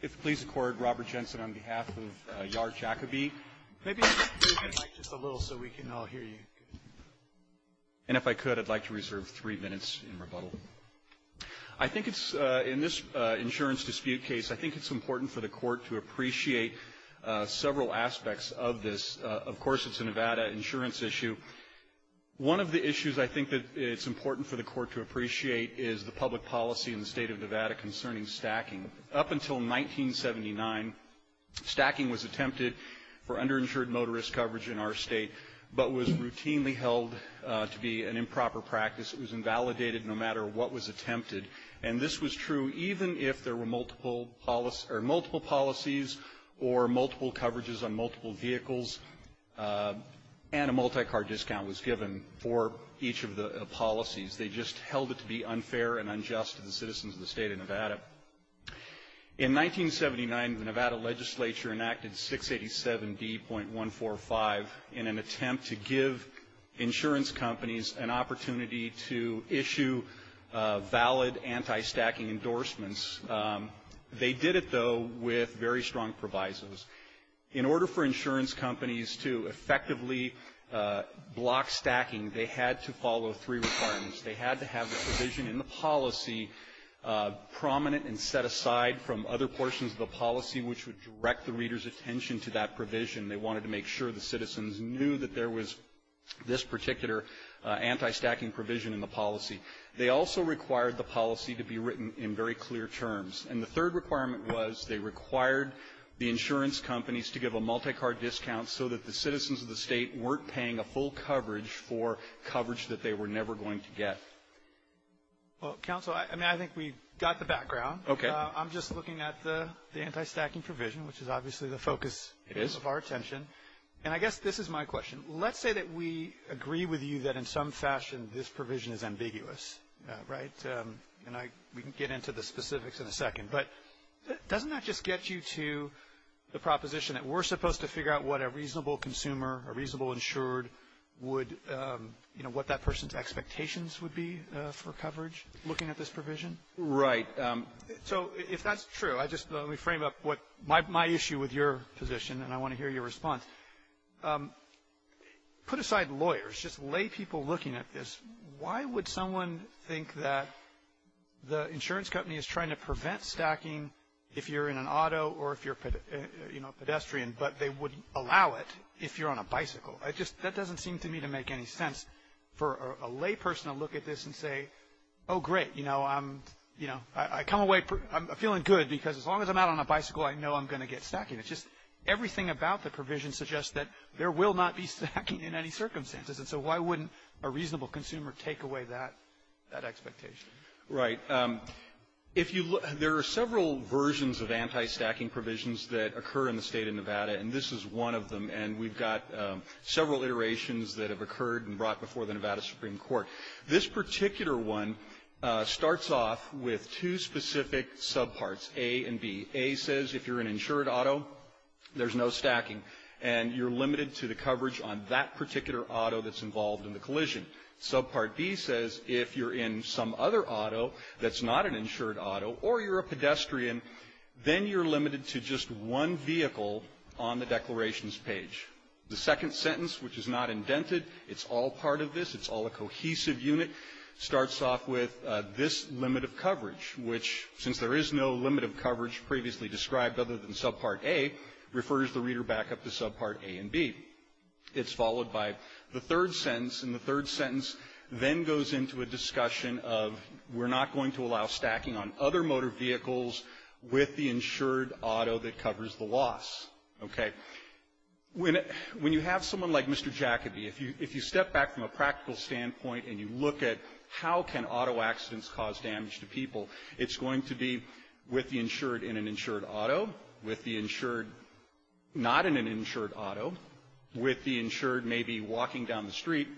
If please accord Robert Jensen on behalf of Yair Jacoby. Maybe move the mic just a little so we can all hear you. And if I could I'd like to reserve three minutes in rebuttal. I think it's, in this insurance dispute case, I think it's important for the court to appreciate several aspects of this. Of course it's a Nevada insurance issue. is the public policy in the state of Nevada concerning stacking. Up until 1979, stacking was attempted for underinsured motorist coverage in our state, but was routinely held to be an improper practice. It was invalidated no matter what was attempted. And this was true even if there were multiple policies or multiple coverages on multiple vehicles and a multi-car discount was given for each of the policies. They just held it to be unfair and unjust to the citizens of the state of Nevada. In 1979, the Nevada legislature enacted 687D.145 in an attempt to give insurance companies an opportunity to issue valid anti-stacking endorsements. They did it though with very strong provisos. In order for insurance companies to effectively block stacking, they had to follow three requirements. They had to have the provision in the policy prominent and set aside from other portions of the policy which would direct the reader's attention to that provision. They wanted to make sure the citizens knew that there was this particular anti-stacking provision in the policy. They also required the policy to be written in very clear terms. And the third requirement was they required the insurance companies to give a multi-car discount so that the citizens of the state weren't paying a full coverage for coverage that they were never going to get. Well, counsel, I mean, I think we got the background. Okay. I'm just looking at the anti-stacking provision, which is obviously the focus of our attention. And I guess this is my question. Let's say that we agree with you that in some fashion this provision is ambiguous, right? And we can get into the specifics in a second. But doesn't that just get you to the proposition that we're supposed to figure out what a reasonable consumer, a reasonable insured would, you know, what that person's expectations would be for coverage looking at this provision? Right. So if that's true, I just want to frame up what my issue with your position, and I want to hear your response. Put aside lawyers, just lay people looking at this. Why would someone think that the insurance company is trying to prevent stacking if you're in an auto or if you're, you know, a pedestrian, but they wouldn't allow it if you're on a bicycle? It just doesn't seem to me to make any sense for a lay person to look at this and say, oh, great. You know, I'm, you know, I come away feeling good because as long as I'm out on a bicycle, I know I'm going to get stacking. It's just everything about the provision suggests that there will not be stacking in any circumstances. And so why wouldn't a reasonable consumer take away that expectation? Right. If you look, there are several versions of anti-stacking provisions that occur in the State of Nevada. And this is one of them. And we've got several iterations that have occurred and brought before the Nevada Supreme Court. This particular one starts off with two specific subparts, A and B. A says if you're an insured auto, there's no stacking, and you're limited to the coverage on that particular auto that's involved in the collision. Subpart B says if you're in some other auto that's not an insured auto or you're a pedestrian, then you're limited to just one vehicle on the declarations page. The second sentence, which is not indented, it's all part of this, it's all a cohesive unit, starts off with this limit of coverage, which since there is no limit of coverage previously described other than subpart A, refers the reader back up to subpart A and B. It's followed by the third sentence. And the third sentence then goes into a discussion of we're not going to allow stacking on other motor vehicles with the insured auto that covers the loss. Okay. When you have someone like Mr. Jacobi, if you step back from a practical standpoint and you look at how can auto accidents cause damage to people, it's going to be with the insured in an insured auto, with the insured not in an insured auto, with the insured maybe walking down the street,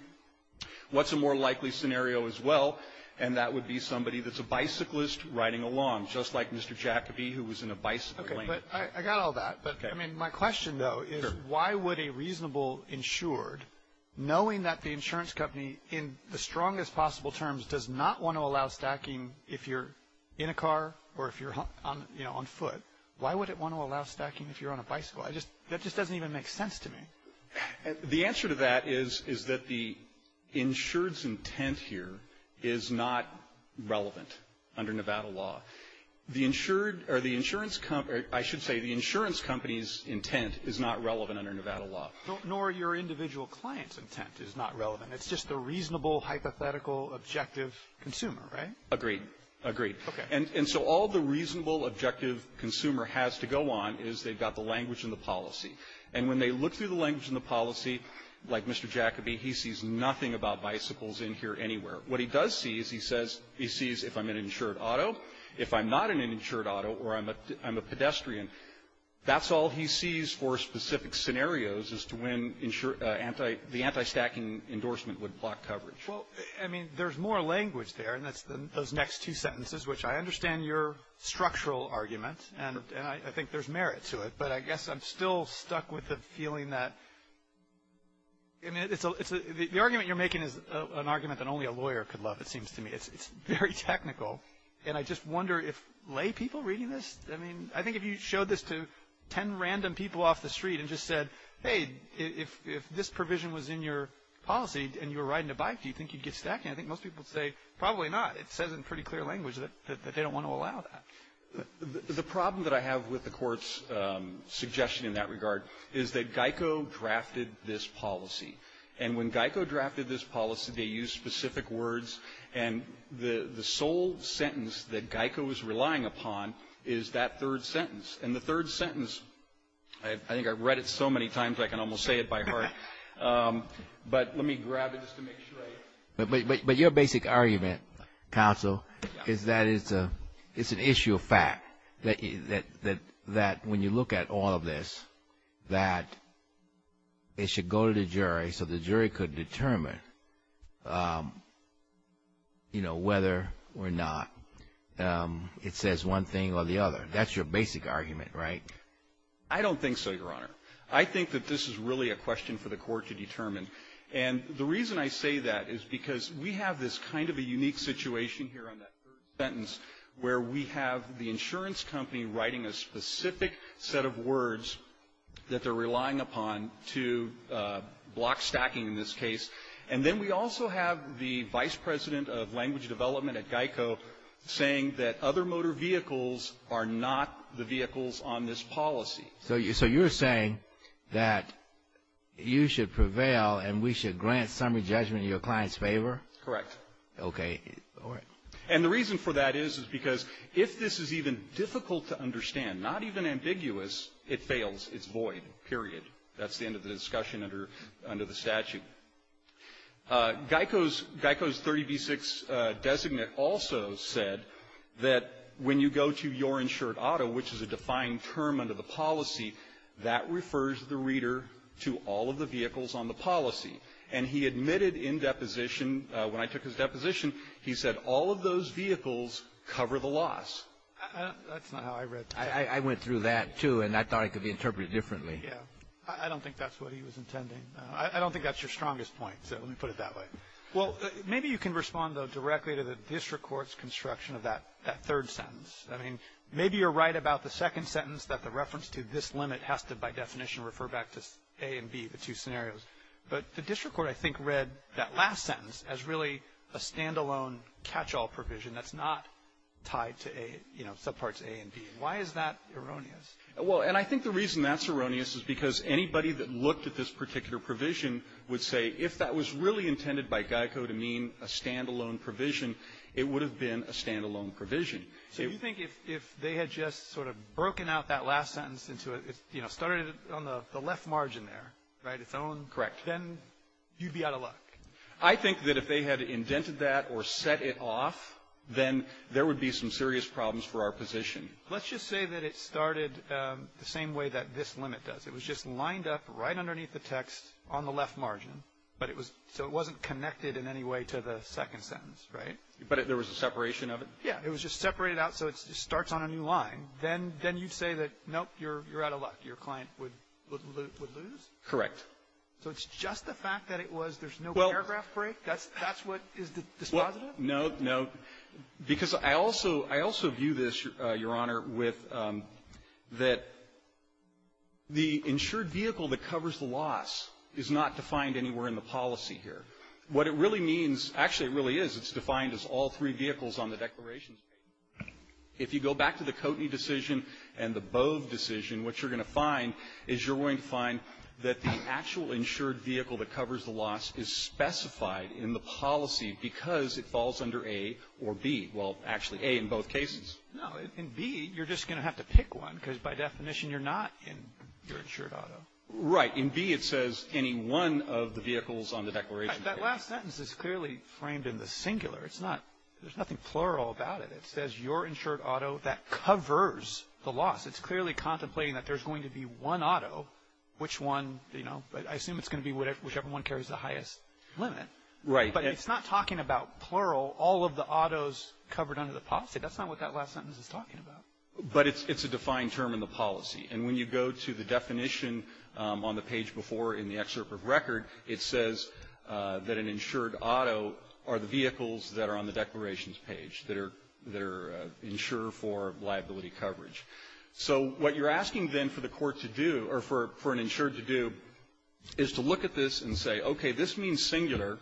what's a more likely scenario as well? And that would be somebody that's a bicyclist riding along, just like Mr. Jacobi who was in a bicycle lane. Okay. But I got all that. But I mean, my question though is why would a reasonable insured, knowing that the insurance company in the strongest possible terms does not want to allow stacking if you're in a car or if you're on, you know, on foot, why would it want to allow stacking if you're on a bicycle? I just, that just doesn't even make sense to me. The answer to that is that the insured's intent here is not relevant under Nevada law. The insured, or the insurance company, I should say the insurance company's intent is not relevant under Nevada law. Nor your individual client's intent is not relevant. It's just the reasonable, hypothetical, objective consumer, right? Agreed. Agreed. Okay. And so all the reasonable, objective consumer has to go on is they've got the language and the policy. And when they look through the language and the policy, like Mr. Jacobi, he sees nothing about bicycles in here anywhere. What he does see is he says, he sees if I'm in an insured auto. If I'm not in an insured auto or I'm a pedestrian, that's all he sees for specific scenarios as to when the anti-stacking endorsement would block coverage. Well, I mean, there's more language there, and that's those next two sentences, which I understand your structural argument, and I think there's merit to it. But I guess I'm still stuck with the feeling that, I mean, it's the argument you're making is an argument that only a lawyer could love, it seems to me. It's very technical. And I just wonder if lay people reading this, I mean, I think if you showed this to 10 random people off the street and just said, hey, if this provision was in your policy and you were riding a bike, do you think you'd get stacking? I think most people would say probably not. It says in pretty clear language that they don't want to allow that. The problem that I have with the Court's suggestion in that regard is that GEICO drafted this policy. And when GEICO drafted this policy, they used specific words, and the sole sentence that GEICO is relying upon is that third sentence. And the third sentence, I think I've read it so many times I can almost say it by heart. But let me grab it just to make sure I... But your basic argument, counsel, is that it's an issue of fact, that when you look at all of this, that it should go to the jury so the jury could determine, you know, whether or not it says one thing or the other. That's your basic argument, right? I don't think so, Your Honor. I think that this is really a question for the Court to determine. And the reason I say that is because we have this kind of a unique situation here on that third sentence where we have the insurance company writing a specific set of words that they're relying upon to block stacking in this case. And then we also have the vice president of language development at GEICO saying that other motor vehicles are not the vehicles on this policy. So you're saying that you should prevail and we should grant summary judgment in your client's favor? Correct. Okay. All right. And the reason for that is because if this is even difficult to understand, not even ambiguous, it fails. It's void, period. That's the end of the discussion under the statute. Okay. GEICO's 30B-6 designate also said that when you go to your insured auto, which is a defined term under the policy, that refers the reader to all of the vehicles on the policy. And he admitted in deposition, when I took his deposition, he said all of those vehicles cover the loss. That's not how I read that. I went through that, too, and I thought it could be interpreted differently. Yeah. I don't think that's what he was intending. I don't think that's your strongest point, so let me put it that way. Well, maybe you can respond, though, directly to the district court's construction of that third sentence. I mean, maybe you're right about the second sentence that the reference to this limit has to, by definition, refer back to A and B, the two scenarios. But the district court, I think, read that last sentence as really a standalone catch-all provision that's not tied to, you know, subparts A and B. Why is that erroneous? Well, and I think the reason that's erroneous is because anybody that looked at this particular provision would say, if that was really intended by GEICO to mean a standalone provision, it would have been a standalone provision. So you think if they had just sort of broken out that last sentence into a, you know, started it on the left margin there, right, its own. Correct. Then you'd be out of luck. I think that if they had indented that or set it off, then there would be some serious problems for our position. Let's just say that it started the same way that this limit does. It was just lined up right underneath the text on the left margin, but it was so it wasn't connected in any way to the second sentence, right? But there was a separation of it? Yeah. It was just separated out so it starts on a new line. Then you say that, nope, you're out of luck. Your client would lose? Correct. So it's just the fact that it was, there's no paragraph break? That's what is dispositive? No, no. Because I also view this, Your Honor, with that the insured vehicle that covers the loss is not defined anywhere in the policy here. What it really means, actually it really is, it's defined as all three vehicles on the declaration. If you go back to the Coatney decision and the Bove decision, what you're going to find is you're going to find that the actual insured vehicle that covers the loss is specified in the policy because it falls under A or B. Well, actually A in both cases. No, in B, you're just going to have to pick one because by definition, you're not in your insured auto. Right. In B, it says any one of the vehicles on the declaration. That last sentence is clearly framed in the singular. It's not, there's nothing plural about it. It says your insured auto that covers the loss. But I assume it's going to be whichever one carries the highest limit. Right. But it's not talking about plural, all of the autos covered under the policy. That's not what that last sentence is talking about. But it's a defined term in the policy. And when you go to the definition on the page before in the excerpt of record, it says that an insured auto are the vehicles that are on the declarations page that are insured for liability coverage. So what you're asking then for the court to do, or for an insured to do, is to look at this and say, okay, this means singular.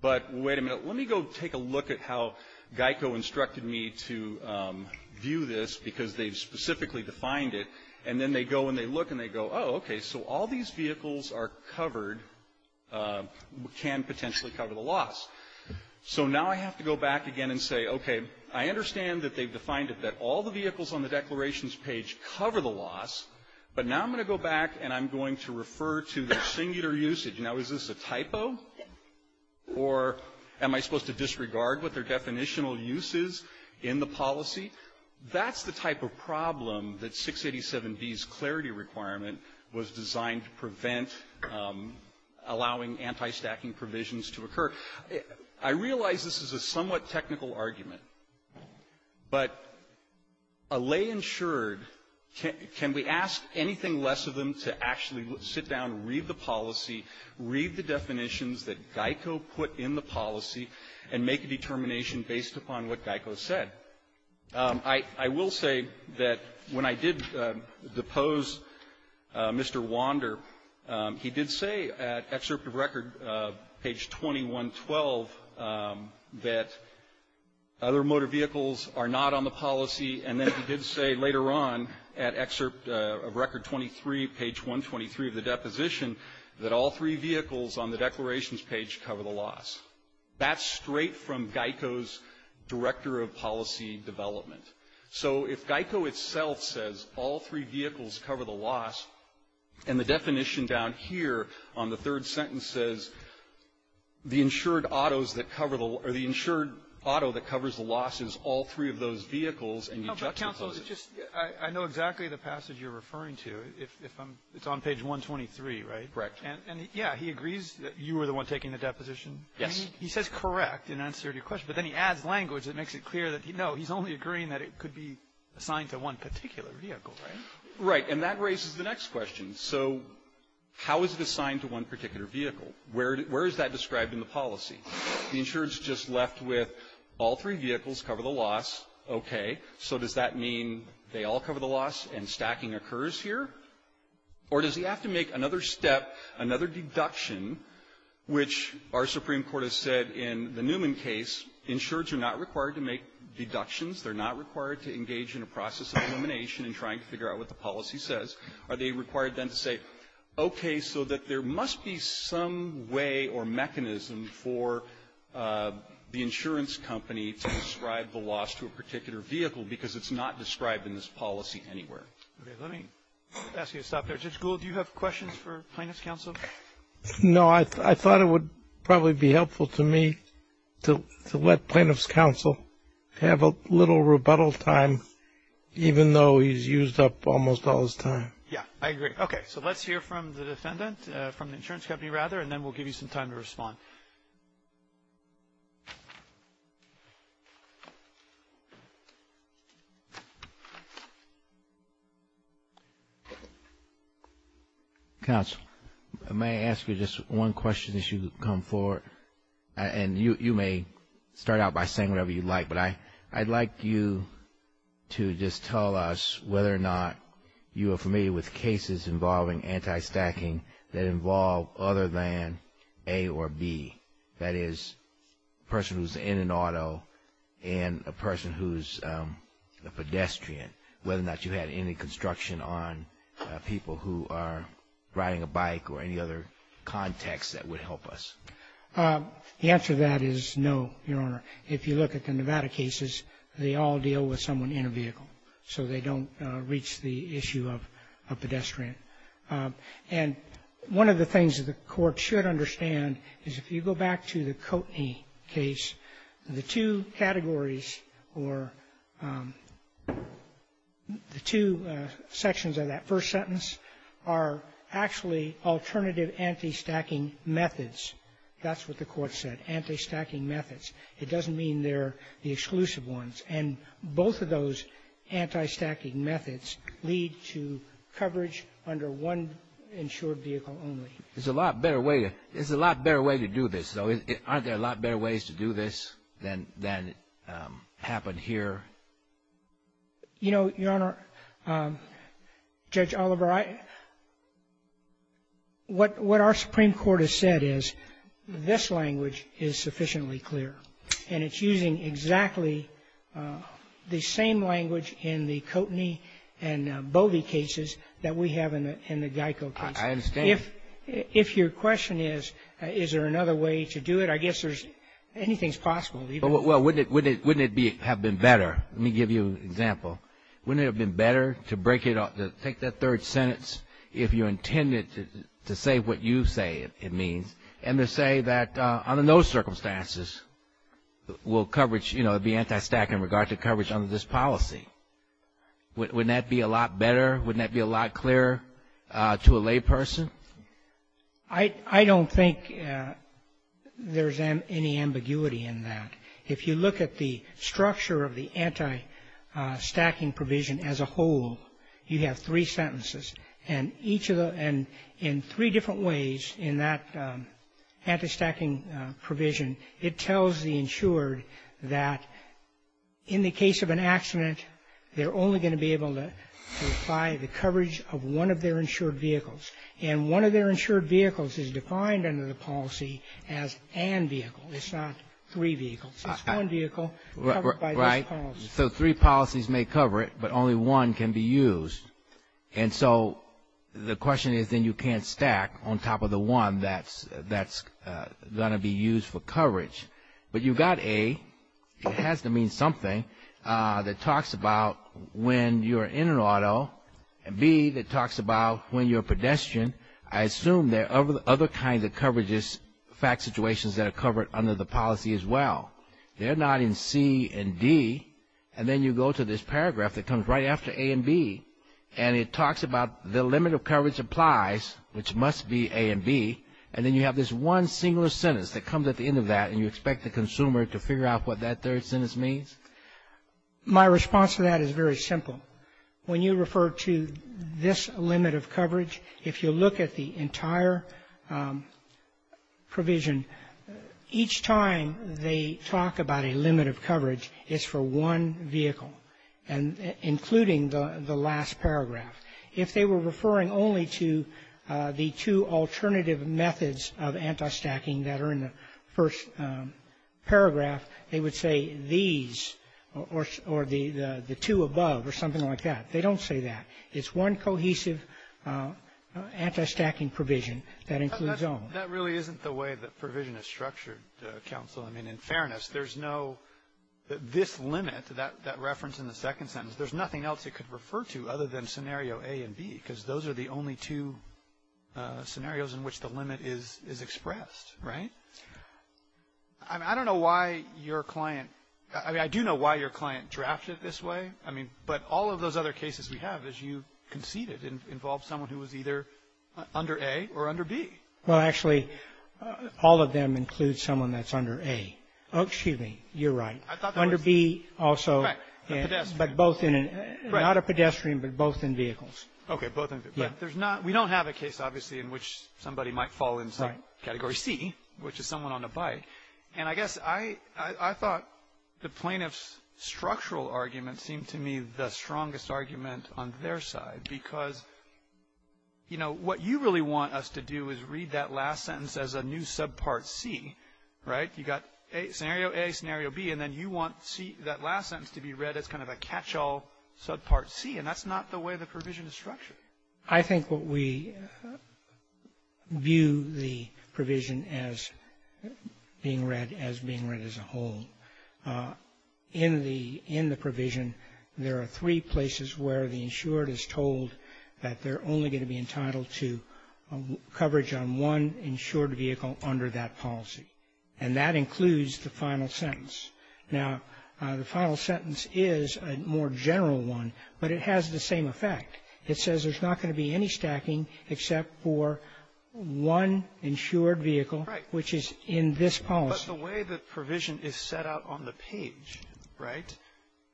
But wait a minute, let me go take a look at how Geico instructed me to view this because they've specifically defined it. And then they go and they look and they go, oh, okay, so all these vehicles are covered, can potentially cover the loss. So now I have to go back again and say, okay, I understand that they've defined it that all the vehicles on the declarations page cover the loss. But now I'm going to go back and I'm going to refer to the singular usage. Now, is this a typo? Or am I supposed to disregard what their definitional use is in the policy? That's the type of problem that 687B's clarity requirement was designed to prevent allowing anti-stacking provisions to occur. I realize this is a somewhat technical argument. But a lay insured, can we ask anything less of them to actually sit down and read the policy, read the definitions that Geico put in the policy, and make a determination based upon what Geico said? I will say that when I did depose Mr. Wander, he did say at excerpt of record, page 2112, that other motor vehicles are not on the policy. And then he did say later on at excerpt of record 23, page 123 of the deposition, that all three vehicles on the declarations page cover the loss. That's straight from Geico's director of policy development. So if Geico itself says all three vehicles cover the loss, and the definition down here on the third sentence says the insured autos that cover the, or the insured auto that covers the loss is all three of those vehicles, and you juxtapose it. I know exactly the passage you're referring to, if I'm, it's on page 123, right? Correct. And yeah, he agrees that you were the one taking the deposition? Yes. He says correct in answer to your question. But then he adds language that makes it clear that, no, he's only agreeing that it could be assigned to one particular vehicle, right? Right. And that raises the next question. So how is it assigned to one particular vehicle? Where is that described in the policy? The insured's just left with all three vehicles cover the loss, okay. So does that mean they all cover the loss and stacking occurs here? Or does he have to make another step, another deduction, which our Supreme Court has said in the Newman case, insureds are not required to make deductions. They're not required to engage in a process of elimination and trying to figure out what the policy says. Are they required then to say, okay, so that there must be some way or mechanism for the insurance company to describe the loss to a particular vehicle because it's not described in this policy anywhere. Okay, let me ask you to stop there. Judge Gould, do you have questions for plaintiff's counsel? No, I thought it would probably be helpful to me to let plaintiff's counsel have a little rebuttal time, even though he's used up almost all his time. Yeah, I agree. Okay, so let's hear from the defendant, from the insurance company rather, and then we'll give you some time to respond. Counsel, may I ask you just one question as you come forward? And you may start out by saying whatever you'd like, but I'd like you to just tell us whether or not you are familiar with cases involving anti-stacking that involve other than A or B, that is, a person who's in an auto and a person who's a pedestrian, whether or not you had any construction on people who are riding a bike or any other context that would help us. The answer to that is no, Your Honor. If you look at the Nevada cases, they all deal with someone in a vehicle, so they don't reach the issue of a pedestrian. And one of the things that the Court should understand is if you go back to the Koteny case, the two categories or the two sections of that first sentence are actually alternative anti-stacking methods. That's what the Court said, anti-stacking methods. It doesn't mean they're the exclusive ones. And both of those anti-stacking methods lead to coverage under one insured vehicle only. There's a lot better way to do this, though. Aren't there a lot better ways to do this than happened here? You know, Your Honor, Judge Oliver, what our Supreme Court has said is this language is sufficiently clear. And it's using exactly the same language in the Koteny and Bodie cases that we have in the Geico case. I understand. If your question is, is there another way to do it, I guess anything's possible. Well, wouldn't it have been better? Let me give you an example. Wouldn't it have been better to take that third sentence, if you intended to say what you say it means, and to say that under no circumstances will coverage, you know, be anti-stacking in regard to coverage under this policy? Wouldn't that be a lot better? Wouldn't that be a lot clearer to a lay person? I don't think there's any ambiguity in that. If you look at the structure of the anti-stacking provision as a whole, you have three sentences. And in three different ways in that anti-stacking provision, it tells the insured that in the case of an accident, they're only gonna be able to apply the coverage of one of their insured vehicles. And one of their insured vehicles is defined under the policy as an vehicle. It's not three vehicles. It's one vehicle covered by this policy. So three policies may cover it, but only one can be used. And so the question is, then you can't stack on top of the one that's gonna be used for coverage, but you've got A, it has to mean something that talks about when you're in an auto, and B, that talks about when you're a pedestrian. I assume there are other kinds of coverages, fact situations that are covered under the policy as well. They're not in C and D. And then you go to this paragraph that comes right after A and B. And it talks about the limit of coverage applies, which must be A and B. And then you have this one singular sentence that comes at the end of that, and you expect the consumer to figure out what that third sentence means. My response to that is very simple. When you refer to this limit of coverage, if you look at the entire provision, each time they talk about a limit of coverage, it's for one vehicle, including the last paragraph. If they were referring only to the two alternative methods of anti-stacking that are in the first paragraph, they would say these, or the two above, or something like that. They don't say that. It's one cohesive anti-stacking provision that includes all. That really isn't the way that provision is structured, counsel. I mean, in fairness, there's no, this limit, that reference in the second sentence, there's nothing else it could refer to other than scenario A and B, because those are the only two scenarios in which the limit is expressed, right? I don't know why your client, I mean, I do know why your client drafted this way. I mean, but all of those other cases we have, as you conceded, involved someone who was either under A or under B. Well, actually, all of them include someone that's under A. Oh, excuse me. You're right. I thought there was under B also. Right, a pedestrian. But both in an, not a pedestrian, but both in vehicles. Okay, both in, but there's not, we don't have a case, obviously, in which somebody might fall into Category C, which is someone on a bike. And I guess I, I thought the plaintiff's structural argument seemed to me the strongest argument on their side, because, you know, what you really want us to do is read that last sentence as a new subpart C, right? You got scenario A, scenario B, and then you want C, that last sentence to be read as kind of a catch-all subpart C, and that's not the way the provision is structured. I think what we view the provision as being read, as being read as a whole. In the, in the provision, there are three places where the insured is told that they're only going to be entitled to coverage on one insured vehicle under that policy. And that includes the final sentence. Now, the final sentence is a more general one, but it has the same effect. It says there's not going to be any stacking except for one insured vehicle. Right. Which is in this policy. But the way the provision is set out on the page, right,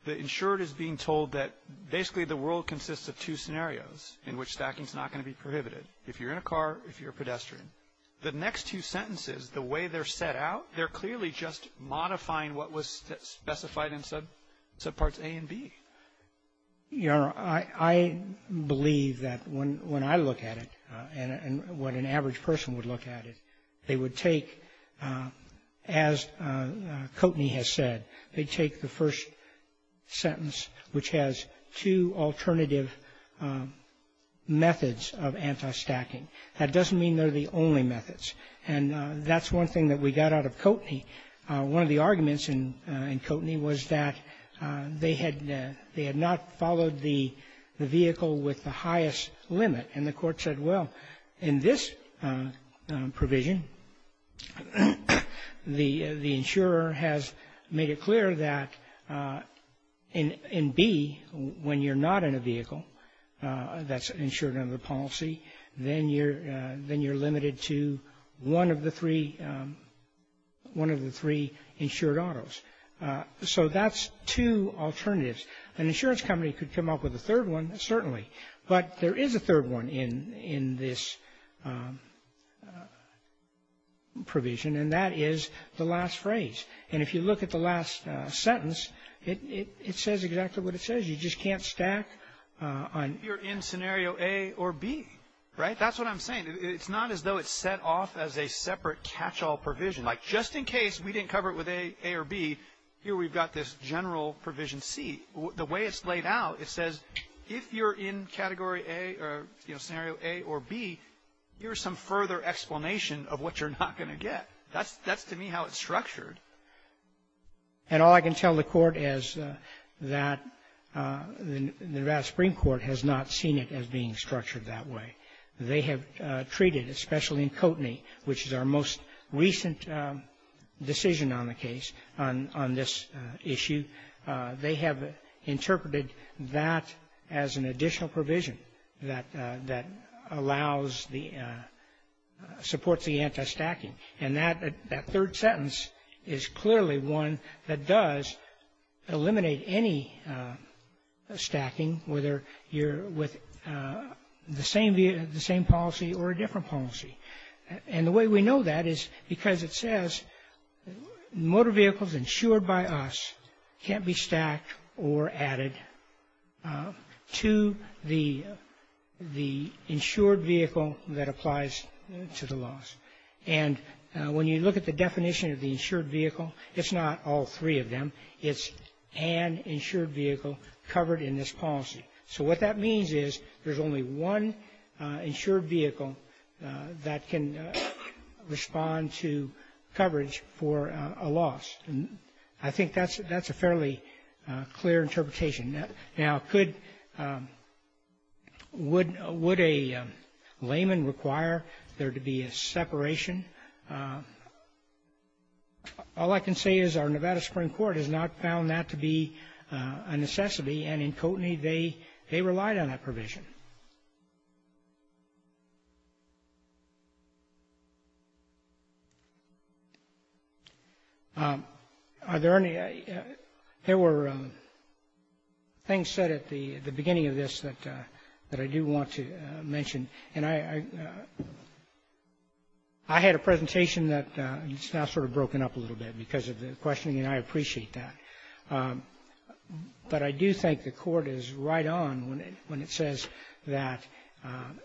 the insured is being told that basically the world consists of two scenarios in which stacking is not going to be prohibited. If you're in a car, if you're a pedestrian. The next two sentences, the way they're set out, they're clearly just modifying what was specified in subparts A and B. Your Honor, I believe that when I look at it, and what an average person would look at it, they would take, as Coteney has said, they'd take the first sentence, which has two alternative methods of anti-stacking. That doesn't mean they're the only methods. And that's one thing that we got out of Coteney. One of the arguments in Coteney was that they had not followed the vehicle with the highest limit. And the Court said, well, in this provision, the insurer has made it clear that in B, when you're not in a vehicle, that's insured under the policy, then you're limited to one of the three insured autos. So that's two alternatives. An insurance company could come up with a third one, certainly. But there is a third one in this provision, and that is the last phrase. And if you look at the last sentence, it says exactly what it says. You just can't stack on. You're in scenario A or B, right? That's what I'm saying. It's not as though it's set off as a separate catch-all provision. Like, just in case we didn't cover it with A or B, here we've got this general provision C. The way it's laid out, it says, if you're in category A or, you know, scenario A or B, here's some further explanation of what you're not going to get. That's, to me, how it's structured. And all I can tell the Court is that the Nevada Supreme Court has not seen it as being structured that way. They have treated, especially in Koteny, which is our most recent decision on the case, on this issue, they have interpreted that as an additional provision that allows the — supports the anti-stacking. And that third sentence is clearly one that does eliminate any stacking, whether you're with the same policy or a different policy. And the way we know that is because it says motor vehicles insured by us can't be stacked or added to the insured vehicle that applies to the laws. And when you look at the definition of the insured vehicle, it's not all three of them. It's an insured vehicle covered in this policy. So what that means is there's only one insured vehicle that can respond to coverage for a loss. And I think that's a fairly clear interpretation. Now, could — would a layman require there to be a separation? All I can say is our Nevada Supreme Court has not found that to be a necessity. And in Koteny, they relied on that provision. Are there any — there were things said at the beginning of this that I do want to mention. And I had a presentation that's now sort of broken up a little bit because of the questioning, and I appreciate that. But I do think the Court is right on when it says that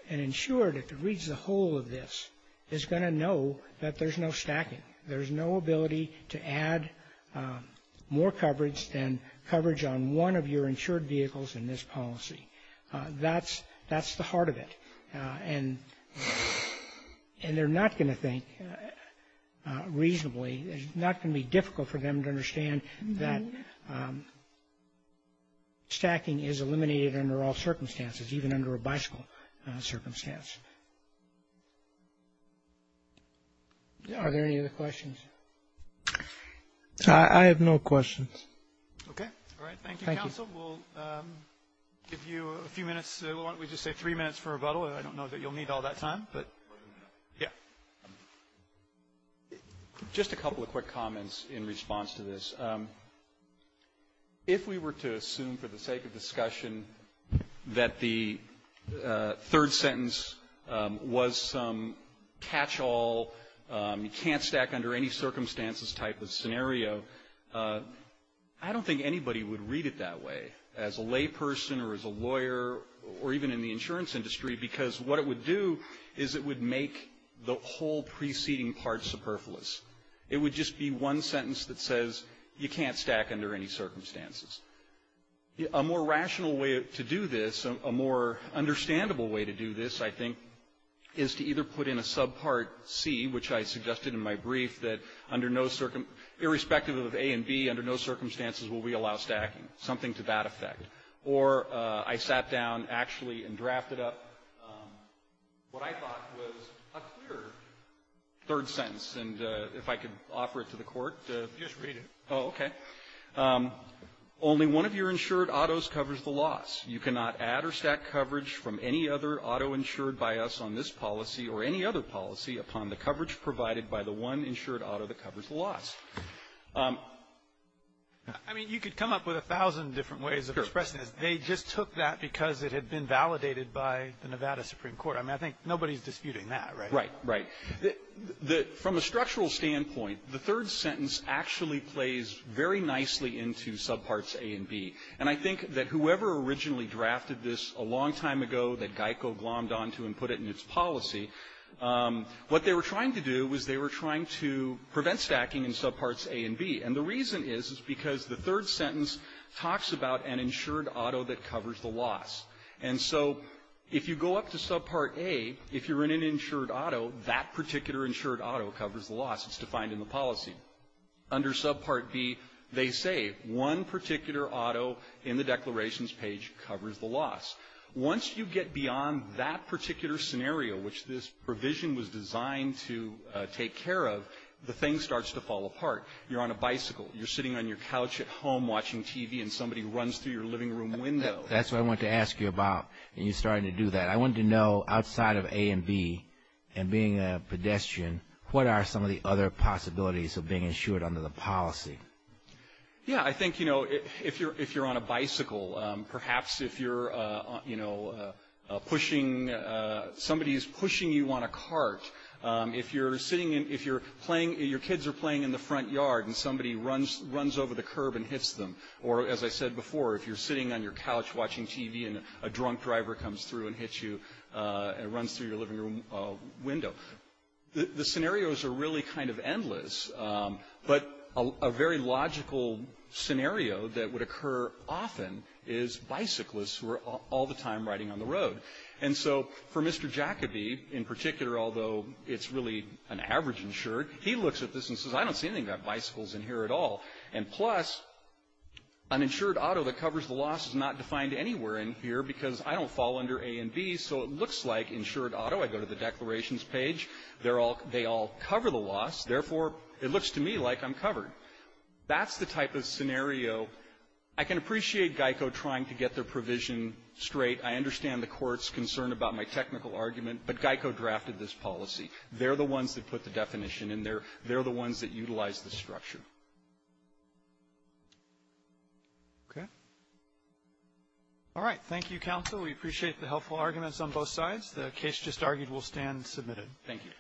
an insured, if it reads the whole of this, is going to know that there's no stacking. There's no ability to add more coverage than coverage on one of your insured vehicles in this policy. That's the heart of it. And they're not going to think reasonably — it's not going to be difficult for them to understand that stacking is eliminated under all circumstances, even under a bicycle circumstance. Are there any other questions? I have no questions. Okay. All right. Thank you, counsel. We'll give you a few minutes. Why don't we just say three minutes for rebuttal? I don't know that you'll need all that time, but — yeah. Just a couple of quick comments in response to this. If we were to assume for the sake of discussion that the third sentence was some catch-all, you can't stack under any circumstances type of scenario, I don't think anybody would read it that way, as a layperson or as a lawyer or even in the insurance industry, because what it would do is it would make the whole preceding part superfluous. It would just be one sentence that says, you can't stack under any circumstances. A more rational way to do this, a more understandable way to do this, I think, is to either put in a subpart C, which I suggested in my brief, that under no — irrespective of A and B, under no circumstances will we allow stacking, something to that effect. Or I sat down, actually, and drafted up what I thought was a clear third sentence, and if I could offer it to the Court to — Just read it. Oh, okay. Only one of your insured autos covers the loss. You cannot add or stack coverage from any other auto insured by us on this policy or any other policy upon the coverage provided by the one insured auto that covers the loss. I mean, you could come up with a thousand different ways of expressing this. They just took that because it had been validated by the Nevada Supreme Court. I mean, I think nobody's disputing that, right? Right, right. From a structural standpoint, the third sentence actually plays very nicely into subparts A and B. And I think that whoever originally drafted this a long time ago that GEICO glommed onto and put it in its policy, what they were trying to do was they were trying to prevent stacking in subparts A and B. And the reason is, is because the third sentence talks about an insured auto that covers the loss. And so if you go up to subpart A, if you're in an insured auto, that particular insured auto covers the loss. It's defined in the policy. Under subpart B, they say one particular auto in the declarations page covers the loss. Once you get beyond that particular scenario, which this provision was designed to take care of, the thing starts to fall apart. You're on a bicycle. You're sitting on your couch at home watching TV and somebody runs through your living room window. That's what I wanted to ask you about, and you started to do that. I wanted to know, outside of A and B and being a pedestrian, what are some of the other responsibilities of being insured under the policy? Yeah, I think, you know, if you're on a bicycle, perhaps if you're, you know, pushing, somebody's pushing you on a cart, if you're sitting in, if you're playing, your kids are playing in the front yard and somebody runs over the curb and hits them. Or as I said before, if you're sitting on your couch watching TV and a drunk driver comes through and hits you and runs through your living room window. The scenarios are really kind of endless, but a very logical scenario that would occur often is bicyclists who are all the time riding on the road. And so for Mr. Jacobi, in particular, although it's really an average insured, he looks at this and says, I don't see anything about bicycles in here at all. And plus, an insured auto that covers the loss is not defined anywhere in here because I don't fall under A and B. So it looks like insured auto, I go to the declarations page, they're all, they all cover the loss. Therefore, it looks to me like I'm covered. That's the type of scenario. I can appreciate GEICO trying to get their provision straight. I understand the Court's concern about my technical argument, but GEICO drafted this policy. They're the ones that put the definition in there. They're the ones that utilize the structure. Okay. All right. Thank you, counsel. We appreciate the helpful arguments on both sides. The case just argued will stand submitted. Thank you.